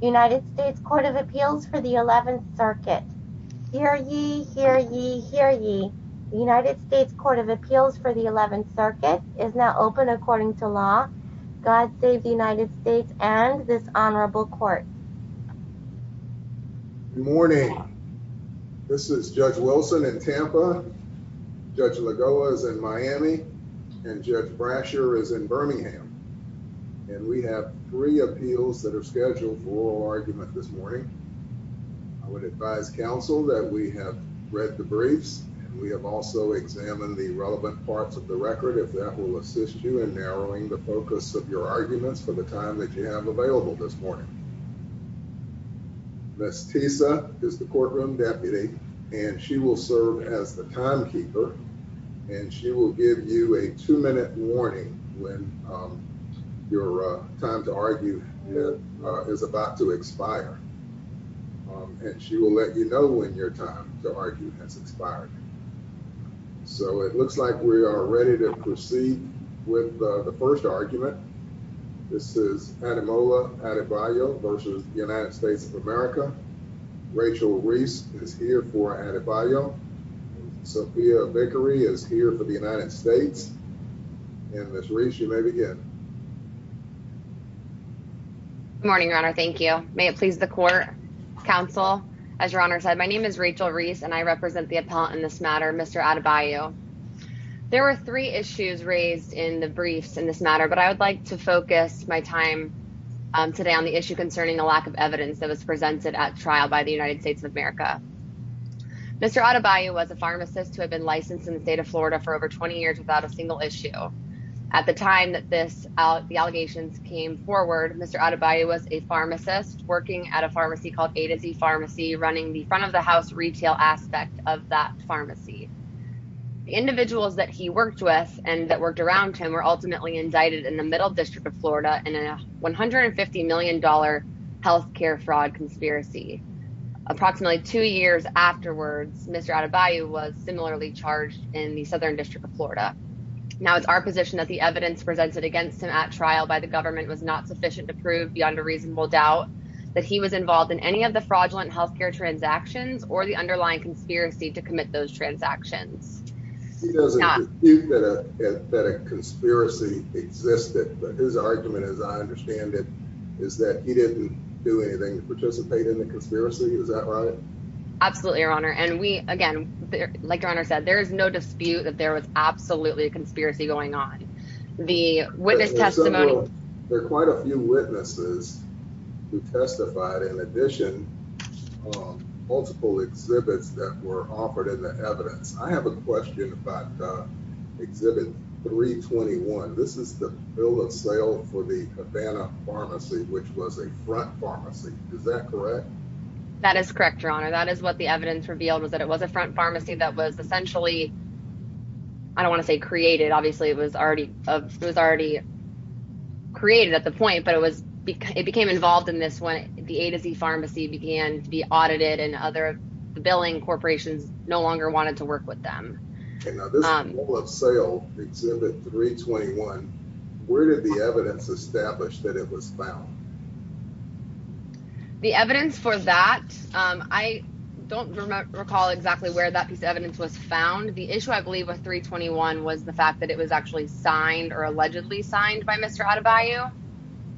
United States Court of Appeals for the 11th Circuit. Hear ye, hear ye, hear ye. The United States Court of Appeals for the 11th Circuit is now open according to law. God save the United States and this Honorable Court. Good morning. This is Judge Wilson in Tampa, Judge Lagoa is in Miami, and Judge Brasher is in oral argument this morning. I would advise counsel that we have read the briefs and we have also examined the relevant parts of the record. If that will assist you in narrowing the focus of your arguments for the time that you have available this morning. Miss Tisa is the courtroom deputy and she will serve as the timekeeper and she will give you a two minute warning when your time to argue is about to expire and she will let you know when your time to argue has expired. So it looks like we are ready to proceed with the first argument. This is Ademola Adebayo versus the United States of America. Rachel Reese is here for Adebayo. Sophia Vickery is here for the United States and this race. You may begin morning runner. Thank you. May it please the court counsel. As your honor said, my name is Rachel Reese and I represent the appellant in this matter. Mr Adebayo. There were three issues raised in the briefs in this matter, but I would like to focus my time today on the issue concerning the lack of evidence that was presented at trial by the United States of America. Mr Adebayo was a pharmacist who had been licensed in the state of Florida for over 20 years without a single issue. At the time that this out the allegations came forward, Mr Adebayo was a pharmacist working at a pharmacy called A to Z Pharmacy, running the front of the house retail aspect of that pharmacy. Individuals that he worked with and that worked around him were ultimately indicted in the Middle District of Florida in a $150 million health care fraud conspiracy. Approximately two years afterwards, Mr Adebayo was similarly charged in the Southern District of Florida. Now it's our position that the evidence presented against him at trial by the government was not sufficient to prove beyond a reasonable doubt that he was involved in any of the fraudulent health care transactions or the underlying conspiracy to commit those transactions. He doesn't think that a he didn't do anything to participate in the conspiracy. Is that right? Absolutely, your honor. And we again, like your honor said, there is no dispute that there was absolutely a conspiracy going on. The witness testimony. There are quite a few witnesses who testified. In addition, um, multiple exhibits that were offered in the evidence. I have a question about exhibit 3 21. This is the bill of sale for the Havana Pharmacy, which was a front pharmacy. Is that correct? That is correct, your honor. That is what the evidence revealed was that it was a front pharmacy that was essentially I don't want to say created. Obviously, it was already it was already created at the point, but it was it became involved in this when the A to Z pharmacy began to be audited and other billing corporations no longer wanted to work with them. Um, sale exhibit 3 21. Where did the evidence establish that it was found? The evidence for that? I don't recall exactly where that piece of evidence was found. The issue I believe with 3 21 was the fact that it was actually signed or allegedly signed by Mr Adebayo.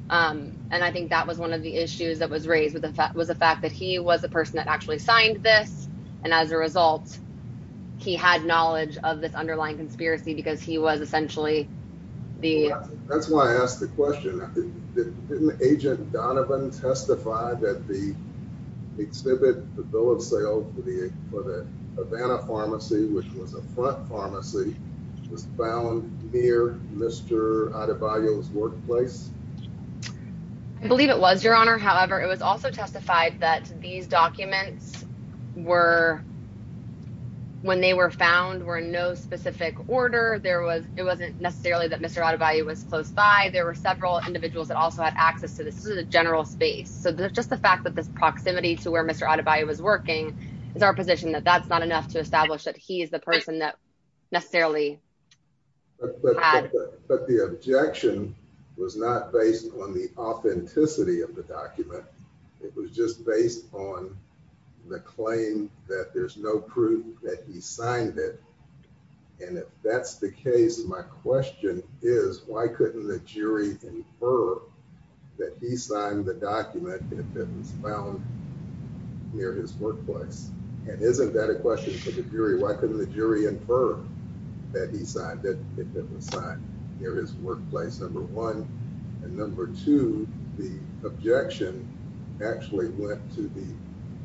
Um, and I think that was one of the issues that was raised with the fact was the fact that he was a person that actually signed this, and as a result, he had knowledge of this underlying conspiracy because he was essentially the that's why I asked the didn't agent Donovan testified that the exhibit the bill of sale for the for the Havana pharmacy, which was a front pharmacy was found near Mr Adebayo's workplace. I believe it was your honor. However, it was also testified that these documents were when they were found were no specific order. There was. It wasn't necessarily that Mr Adebayo was close by. There were several individuals that also had access to the general space. So there's just the fact that this proximity to where Mr Adebayo was working is our position that that's not enough to establish that he is the person that necessarily but the objection was not based on the authenticity of the document. It was just based on the claim that there's no proof that he signed it. And if that's the case, my question is, why couldn't the jury infer that he signed the document that was found near his workplace? And isn't that a question for the jury? Why couldn't the jury infer that he signed it? It was signed near his workplace number one and number two. The objection actually went to the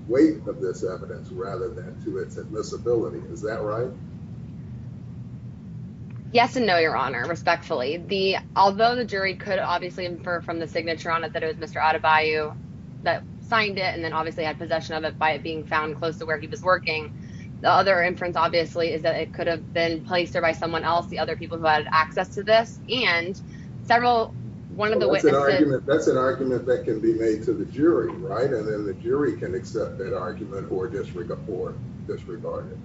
weight of this evidence rather than to its admissibility. Is that right? Yes and no, Your Honor. Respectfully, the although the jury could obviously infer from the signature on it that it was Mr Adebayo that signed it and then obviously had possession of it by being found close to where he was working. The other inference, obviously, is that it could have been placed there by someone else. The other people who had access to this and several one of the witnesses. That's an argument that can be made to the jury, right? And then the jury can accept that argument or disregard it.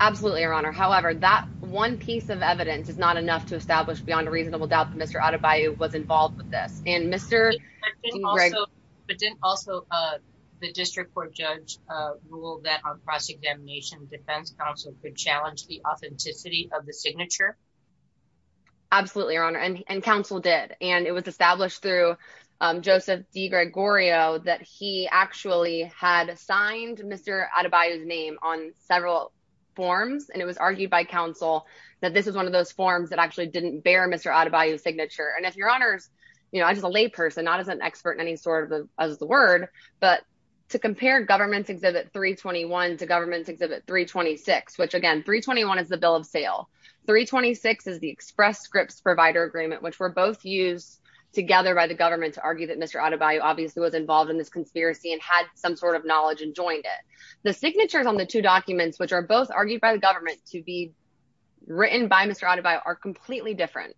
Absolutely, Your Honor. However, that one piece of evidence is not enough to establish beyond a reasonable doubt that Mr Adebayo was involved with this and Mr Greg. But didn't also, uh, the district court judge ruled that on cross examination, defense counsel could challenge the authenticity of the signature. Absolutely, Your Honor. And council did. And it was established through Joseph D Gregorio that he actually had signed Mr Adebayo's name on several forms, and it was argued by council that this is one of those forms that actually didn't bear Mr Adebayo signature. And if your honors, you know, I just a lay person, not as an expert in any sort of the as the word. But to compare government exhibit 3 21 to government exhibit 3 26, which again 3 21 is the bill of sale. 3 26 is the express scripts provider agreement, which were both used together by the government to argue that Mr Adebayo obviously was involved in this conspiracy and had some sort of knowledge and joined it. The signatures on the two documents, which are both argued by the government to be written by Mr Adebayo, are completely different.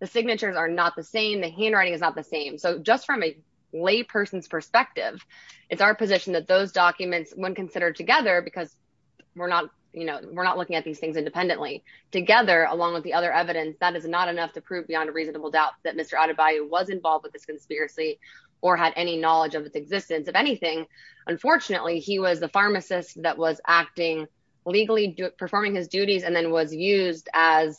The signatures are not the same. The handwriting is not the same. So just from a lay person's perspective, it's our position that those documents when considered together because we're not, you know, we're not looking at these things independently together, along with the other evidence that is not enough to beyond a reasonable doubt that Mr Adebayo was involved with this conspiracy or had any knowledge of its existence of anything. Unfortunately, he was the pharmacist that was acting legally performing his duties and then was used as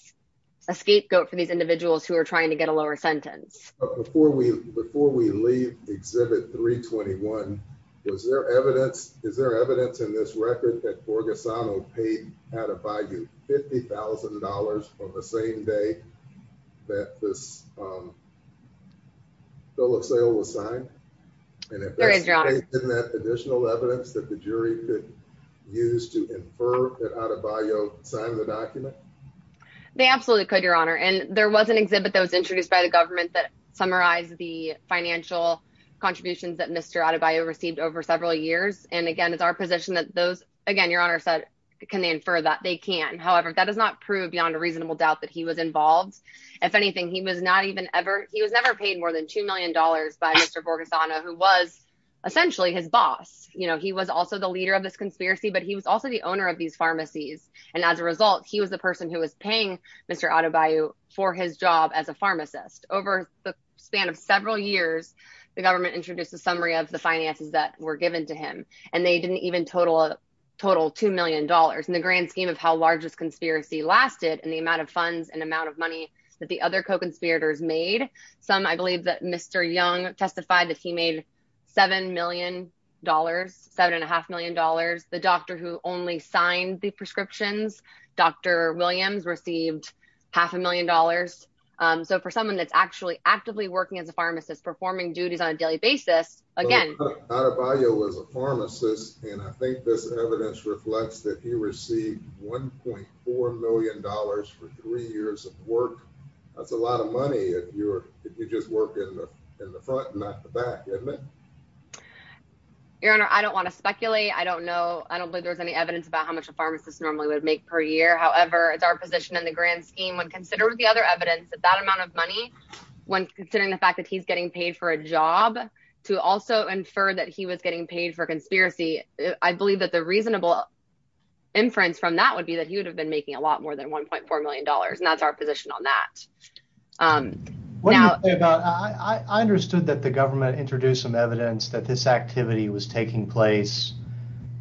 a scapegoat for these individuals who are trying to get a lower sentence before we before we leave exhibit 3 21. Was there evidence? Is there evidence in this record that Borgesano paid Adebayo $50,000 from the same day that this, um, bill of sale was signed? And if there's any additional evidence that the jury could use to infer that Adebayo signed the document, they absolutely could, Your Honor. And there was an exhibit that was introduced by the government that summarized the financial contributions that Mr Adebayo received over several years. And again, it's our position that those again, Your Honor said, Can they infer that they can? However, that does not prove beyond a reasonable doubt that he was involved. If anything, he was not even ever. He was never paid more than $2 million by Mr Borgesano, who was essentially his boss. You know, he was also the leader of this conspiracy, but he was also the owner of these pharmacies. And as a result, he was the person who was paying Mr Adebayo for his job as a pharmacist. Over the span of several years, the government introduced a summary of the finances that were given to him, and they didn't even total a total $2 million in the grand scheme of how large this conspiracy lasted, and the amount of funds and amount of money that the other co conspirators made. Some, I believe that Mr Young testified that he made $7 million, $7.5 million. The doctor who only signed the prescriptions, Dr Williams, received half a million dollars. Um, so for someone that's actually actively working as a pharmacist performing duties on a daily basis again, Adebayo was a pharmacist, and I think this evidence reflects that he received $1.4 million for three years of work. That's a lot of money. If you're if you just work in the front, not the back, isn't it? Your Honor, I don't want to speculate. I don't know. I don't believe there's any evidence about how much a pharmacist normally would make per year. However, it's our position in the grand scheme. When considering the other evidence that that amount of money, when considering the fact that he's getting paid for a job to also infer that he was getting paid for inference from that would be that he would have been making a lot more than $1.4 million. And that's our position on that. Um, what about I understood that the government introduced some evidence that this activity was taking place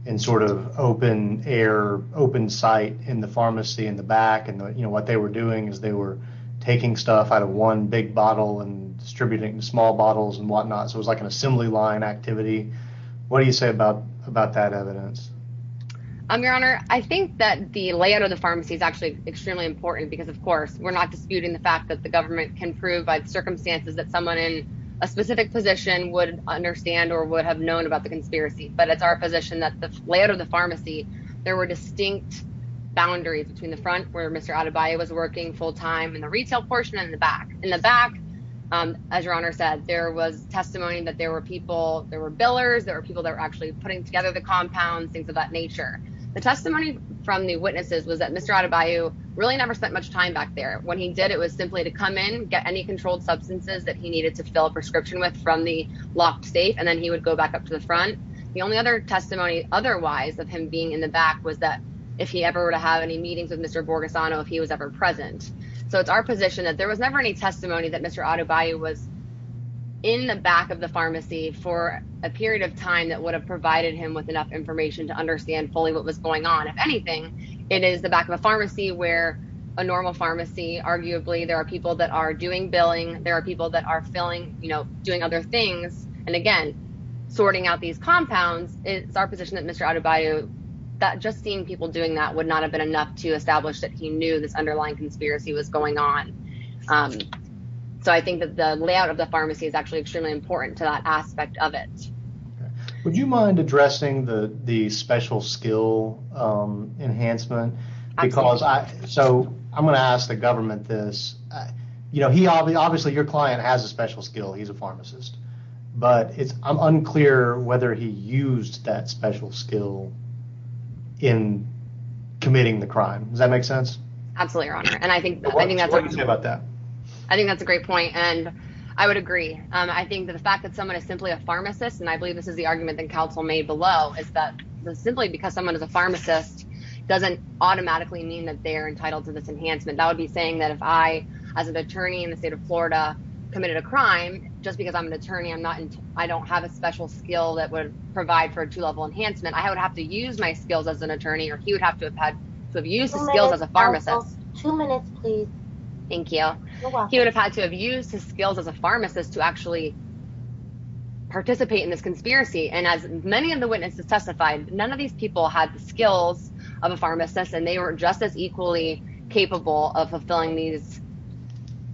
in sort of open air, open site in the pharmacy in the back. And you know what they were doing is they were taking stuff out of one big bottle and distributing small bottles and whatnot. So it's like an assembly line activity. What do you say about about that evidence? Um, Your Honor, I think that the layout of the pharmacy is actually extremely important because, of course, we're not disputing the fact that the government can prove by the circumstances that someone in a specific position would understand or would have known about the conspiracy. But it's our position that the layout of the pharmacy, there were distinct boundaries between the front where Mr Adebayo was working full time in the retail portion in the back in the back. Um, as your honor said, there was testimony that there were people, there were billers, there were people that were actually putting together the compounds, things of that nature. The testimony from the witnesses was that Mr Adebayo really never spent much time back there. When he did, it was simply to come in, get any controlled substances that he needed to fill a prescription with from the locked safe, and then he would go back up to the front. The only other testimony otherwise of him being in the back was that if he ever were to have any meetings with Mr Borges on if he was ever present. So it's our position that there was never any testimony that Mr Adebayo was in the back of the pharmacy for a period of time that would have provided him with enough information to understand fully what was going on. If anything, it is the back of a pharmacy where a normal pharmacy. Arguably, there are people that are doing billing. There are people that are filling, you know, doing other things and again, sorting out these compounds. It's our position that Mr Adebayo that just seeing people doing that would not have been enough to establish that he knew this thing that the layout of the pharmacy is actually extremely important to that aspect of it. Would you mind addressing the special skill enhancement? Because I so I'm gonna ask the government this. You know, he obviously obviously your client has a special skill. He's a pharmacist, but it's unclear whether he used that special skill in committing the crime. Does that make sense? Absolutely. Your honor. And I think I think that's about that. I think that's a great point. And I would agree. I think that the fact that someone is simply a pharmacist, and I believe this is the argument that counsel made below is that simply because someone is a pharmacist doesn't automatically mean that they're entitled to this enhancement. That would be saying that if I as an attorney in the state of Florida committed a crime just because I'm an attorney, I'm not. I don't have a special skill that would provide for a two level enhancement. I would have to use my skills as an attorney or he would have to have had to have used skills as a pharmacist. Two minutes, please. Thank you. He would have had to have used his skills as a pharmacist to actually participate in this conspiracy. And as many of the witnesses testified, none of these people had the skills of a pharmacist, and they were just as equally capable of fulfilling these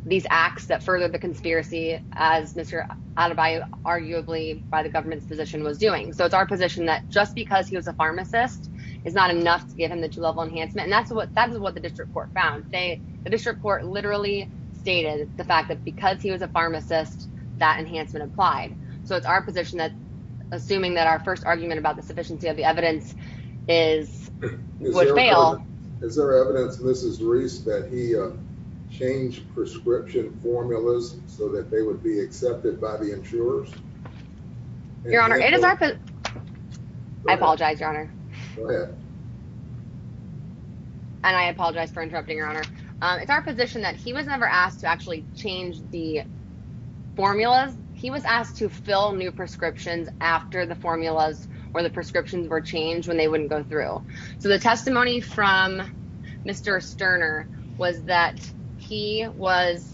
these acts that further the conspiracy as Mr Adebayo, arguably by the government's position, was doing. So it's our position that just because he was a pharmacist is not enough to give him the two level enhancement. And that's what that is what the district court found. They the district court literally stated the fact that because he was a pharmacist, that enhancement applied. So it's our position that assuming that our first argument about the sufficiency of the evidence is would fail. Is there evidence, Mrs Reese, that he changed prescription formulas so that they would be accepted by the insurers? Your Honor, it is. I apologize, Your Honor. And I apologize for interrupting your honor. It's our position that he was never asked to actually change the formulas. He was asked to fill new prescriptions after the formulas or the prescriptions were changed when they wouldn't go through. So the testimony from Mr Stirner was that he was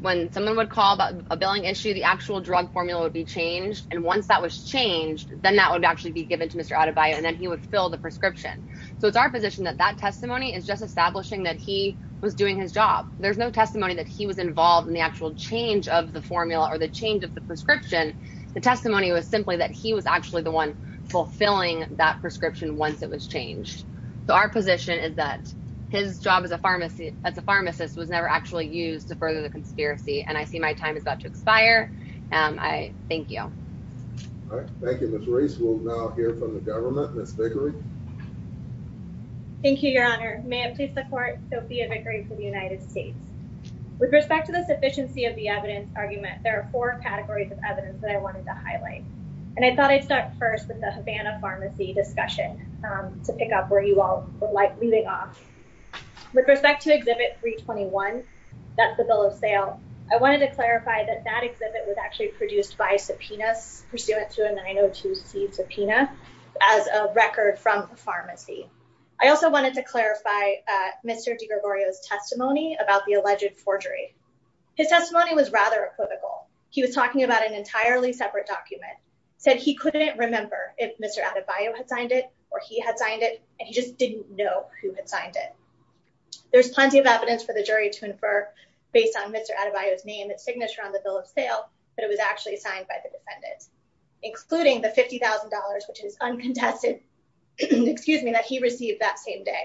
when someone would call about a billing issue, the actual drug formula would be changed. And once that was changed, then that would actually be given to out of bio and then he would fill the prescription. So it's our position that that testimony is just establishing that he was doing his job. There's no testimony that he was involved in the actual change of the formula or the change of the prescription. The testimony was simply that he was actually the one fulfilling that prescription once it was changed. So our position is that his job as a pharmacy as a pharmacist was never actually used to further the conspiracy. And I see my time is about to expire. Um, I thank you. All right. Thank you. Miss race. We'll now hear from the government. Miss Vickery. Thank you, Your Honor. May I please support Sophia Vickery for the United States. With respect to the sufficiency of the evidence argument, there are four categories of evidence that I wanted to highlight. And I thought I'd start first with the Havana Pharmacy discussion to pick up where you all would like leaving off with respect to exhibit 3 21. That's the bill of sale. I wanted to clarify that that exhibit was actually produced by subpoenas pursuant to a 902 C subpoena as a record from a pharmacy. I also wanted to clarify Mr Gregorio's testimony about the alleged forgery. His testimony was rather equivocal. He was talking about an entirely separate document said he couldn't remember if Mr Adebayo had signed it or he had signed it and he just didn't know who had signed it. There's plenty of his name, its signature on the bill of sale, but it was actually signed by the defendant, including the $50,000, which is uncontested. Excuse me that he received that same day.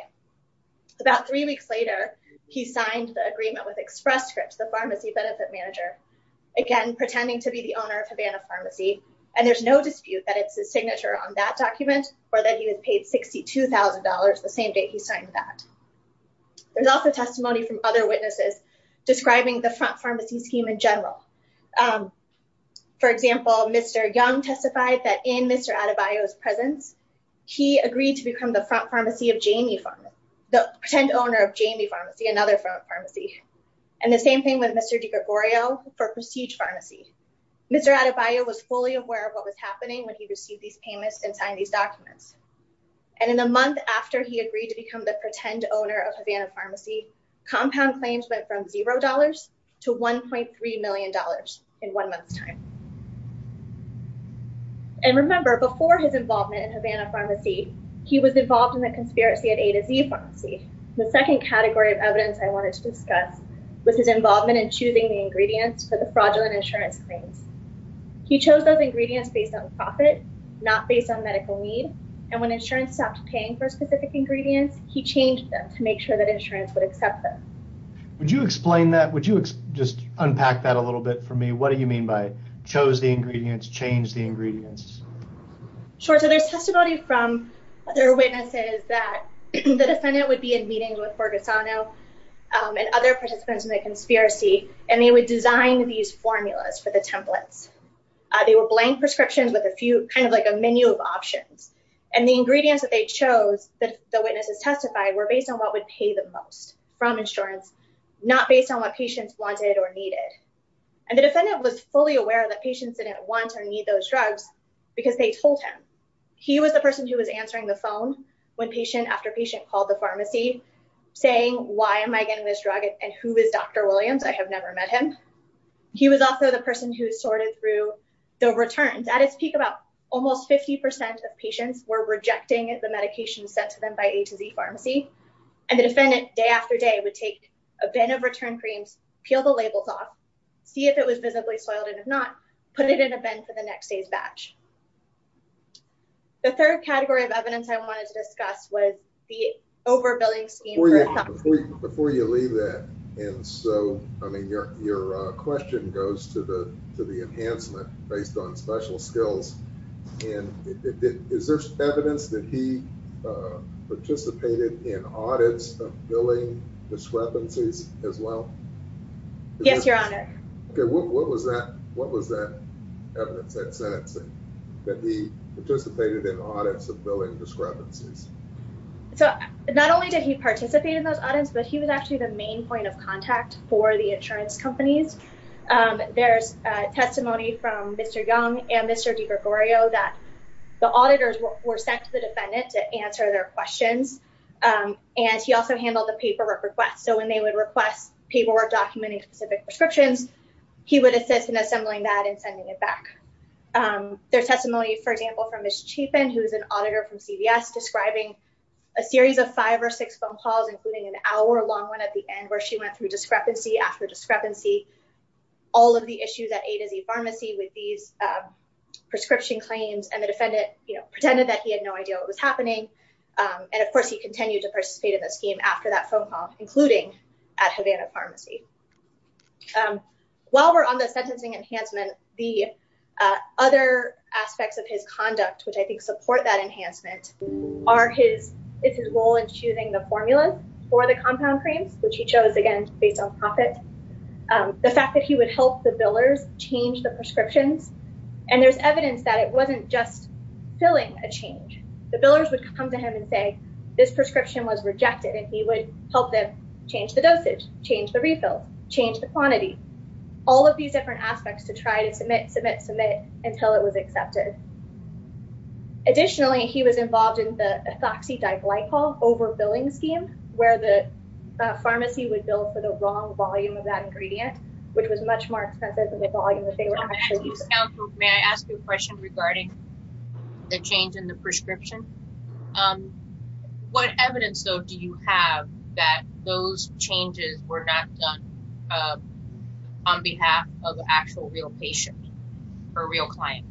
About three weeks later, he signed the agreement with Express Scripts, the pharmacy benefit manager again, pretending to be the owner of Havana Pharmacy. And there's no dispute that it's his signature on that document or that he was paid $62,000 the same day he signed that. There's also testimony from other witnesses describing the front pharmacy scheme in general. Um, for example, Mr Young testified that in Mr Adebayo's presence, he agreed to become the front pharmacy of Jamie Farm, the pretend owner of Jamie Pharmacy, another front pharmacy. And the same thing with Mr Gregorio for Prestige Pharmacy. Mr Adebayo was fully aware of what was happening when he received these payments and signed these documents. And in the month after he agreed to become the pretend owner of Havana Pharmacy, compound claims went from $0 to $1.3 million in one month's time. And remember, before his involvement in Havana Pharmacy, he was involved in the conspiracy of A to Z Pharmacy. The second category of evidence I wanted to discuss was his involvement in choosing the ingredients for the fraudulent insurance claims. He chose those ingredients based on profit, not based on medical need. And when insurance stopped paying for specific ingredients, he changed them to make sure that insurance would accept them. Would you explain that? Would you just unpack that a little bit for me? What do you mean by chose the ingredients, change the ingredients? Sure. So there's testimony from other witnesses that the defendant would be in meetings with Borgasano and other participants in the conspiracy, and they would design these formulas for the templates. They were blank prescriptions with a few kind of like a menu of options. And the ingredients that they chose that the witnesses testified were based on what would pay the most from insurance, not based on what patients wanted or needed. And the defendant was fully aware that patients didn't want or need those drugs, because they told him. He was the person who was answering the phone when patient after patient called the pharmacy, saying, Why am I getting this drug? And who is Dr. Williams? I have never met him. He was also the person who sorted through the returns at his pharmacy. And the defendant, day after day, would take a bin of return creams, peel the labels off, see if it was visibly soiled, and if not, put it in a bin for the next day's batch. The third category of evidence I wanted to discuss was the overbilling scheme. Before you leave that, and so I mean, your your question goes to the to the skills. And is there evidence that he participated in audits of billing discrepancies as well? Yes, Your Honor. Okay, what was that? What was that evidence that said that he participated in audits of billing discrepancies? So not only did he participate in those audits, but he was actually the main point of contact for the insurance companies. There's testimony from Mr. Young and Mr. DiGregorio that the auditors were sent to the defendant to answer their questions. And he also handled the paperwork requests. So when they would request paperwork documenting specific prescriptions, he would assist in assembling that and sending it back. There's testimony, for example, from Ms. Chapin, who is an auditor from CVS describing a series of five or six phone calls, including an hour long one at the end where she went through discrepancy after discrepancy. All of the issues at A to Z Pharmacy with these prescription claims and the defendant, you know, pretended that he had no idea what was happening. And of course, he continued to participate in the scheme after that phone call, including at Havana Pharmacy. While we're on the sentencing enhancement, the other aspects of his conduct, which I think support that enhancement, are his, it's his role in choosing the formula for the compound creams, which he chose, again, based on profit. The fact that he would help the billers change the prescriptions. And there's evidence that it wasn't just filling a change. The billers would come to him and say, this prescription was rejected, and he would help them change the dosage, change the refill, change the quantity. All of these different aspects to try to submit, submit, submit, until it was accepted. Additionally, he was involved in the ethoxydiglycol over the pharmacy would bill for the wrong volume of that ingredient, which was much more expensive than the volume that they were actually using. May I ask you a question regarding the change in the prescription? What evidence, though, do you have that those changes were not done on behalf of the actual real patient or real client?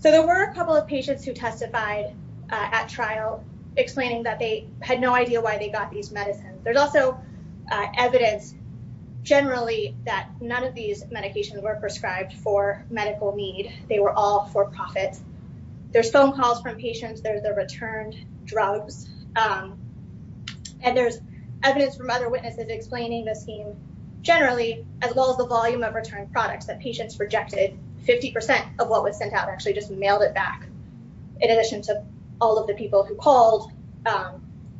So there were a couple of patients who testified at trial explaining that they had no idea why they got these medicines. There's also evidence, generally, that none of these medications were prescribed for medical need. They were all for profit. There's phone calls from patients, there's their returned drugs, and there's evidence from other witnesses explaining the scheme, generally, as well as the volume of returned products that patients rejected. Fifty percent of what was sent out actually just mailed it back, in addition to all of the people who called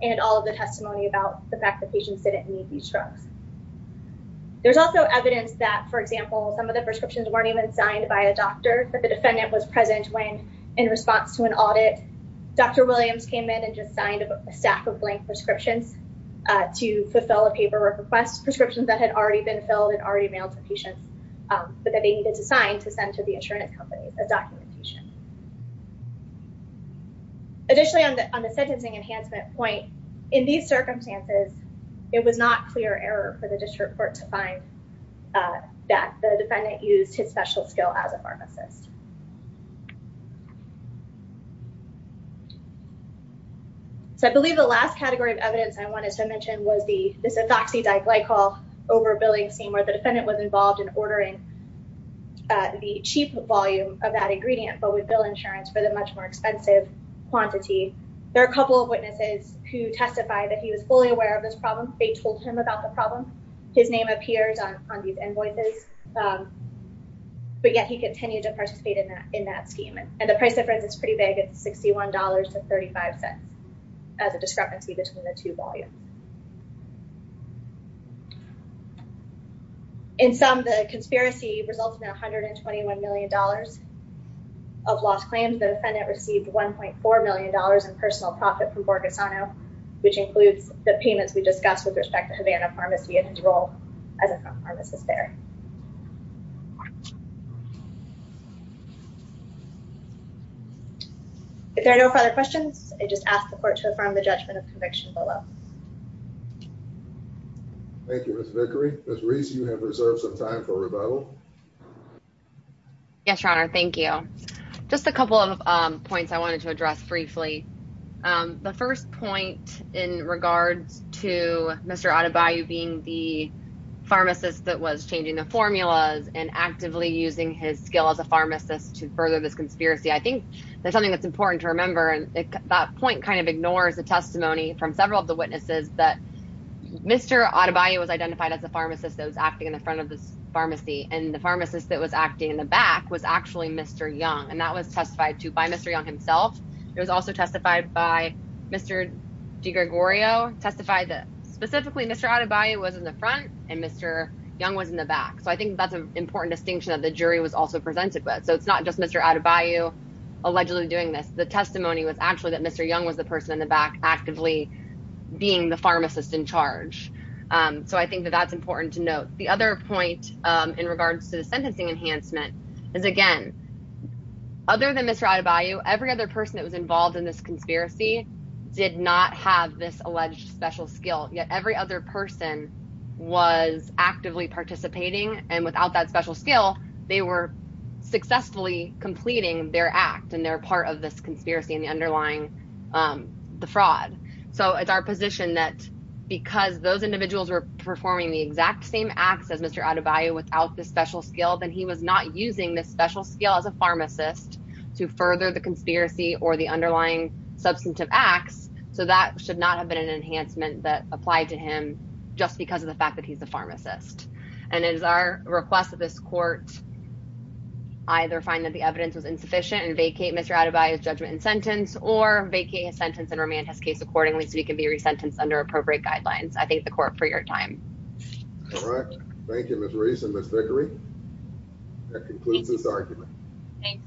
and all of the testimony about the fact that patients didn't need these drugs. There's also evidence that, for example, some of the prescriptions weren't even signed by a doctor, but the defendant was present when, in response to an audit, Dr. Williams came in and just signed a stack of blank prescriptions to fulfill a paperwork request, prescriptions that had already been filled and already mailed to patients, but that they needed to sign to send to the insurance company as documentation. Additionally, on the sentencing enhancement point, in these circumstances, it was not clear error for the district court to find that the defendant used his special skill as a pharmacist. So I believe the last category of evidence I wanted to mention was this ethoxydiglycol overbilling scheme, where the defendant was involved in ordering the cheap volume of that ingredient, but with bill insurance for the much more expensive quantity. There are a couple of witnesses who testified that he was fully aware of this problem. They told him about the problem. His name appears on these invoices, but yet he continued to participate in that scheme, and the price difference is pretty big. It's $61.35 as a discrepancy between the two volumes. In sum, the conspiracy resulted in $121 million of lost claims. The defendant received $1.4 million in personal profit from Borgesano, which includes the payments we discussed with respect to Havana Pharmacy and his role as a pharmacist there. If there are no further questions, I just ask the you have reserved some time for rebuttal. Yes, your honor. Thank you. Just a couple of points I wanted to address briefly. The first point in regards to Mr. Adebayo being the pharmacist that was changing the formulas and actively using his skill as a pharmacist to further this conspiracy, I think there's something that's important to remember, and that point kind of ignores the testimony from several of the witnesses that Mr. Adebayo was identified as a pharmacist that was acting in the front of this pharmacy, and the pharmacist that was acting in the back was actually Mr. Young, and that was testified to by Mr. Young himself. It was also testified by Mr. DiGregorio, testified that specifically Mr. Adebayo was in the front and Mr. Young was in the back, so I think that's an important distinction that the jury was also presented with, so it's not just Mr. Adebayo allegedly doing this. The testimony was actually that Mr. Young was the person in the back actively being the pharmacist in charge, so I think that that's important to note. The other point in regards to the sentencing enhancement is, again, other than Mr. Adebayo, every other person that was involved in this conspiracy did not have this alleged special skill, yet every other person was actively participating, and without that special skill, they were successfully completing their act, and they're part of this conspiracy and the underlying fraud, so it's our position that because those individuals were performing the exact same acts as Mr. Adebayo without the special skill, then he was not using this special skill as a pharmacist to further the conspiracy or the underlying substantive acts, so that should not have been an enhancement that applied to him just because of the fact that he's a pharmacist, and it is our request that this court either find that the Mr. Adebayo's judgment in sentence or vacate his sentence and remand his case accordingly so he can be resentenced under appropriate guidelines. I thank the court for your time. All right, thank you, Ms. Reese and Ms. Vickery. That concludes this argument. Thanks.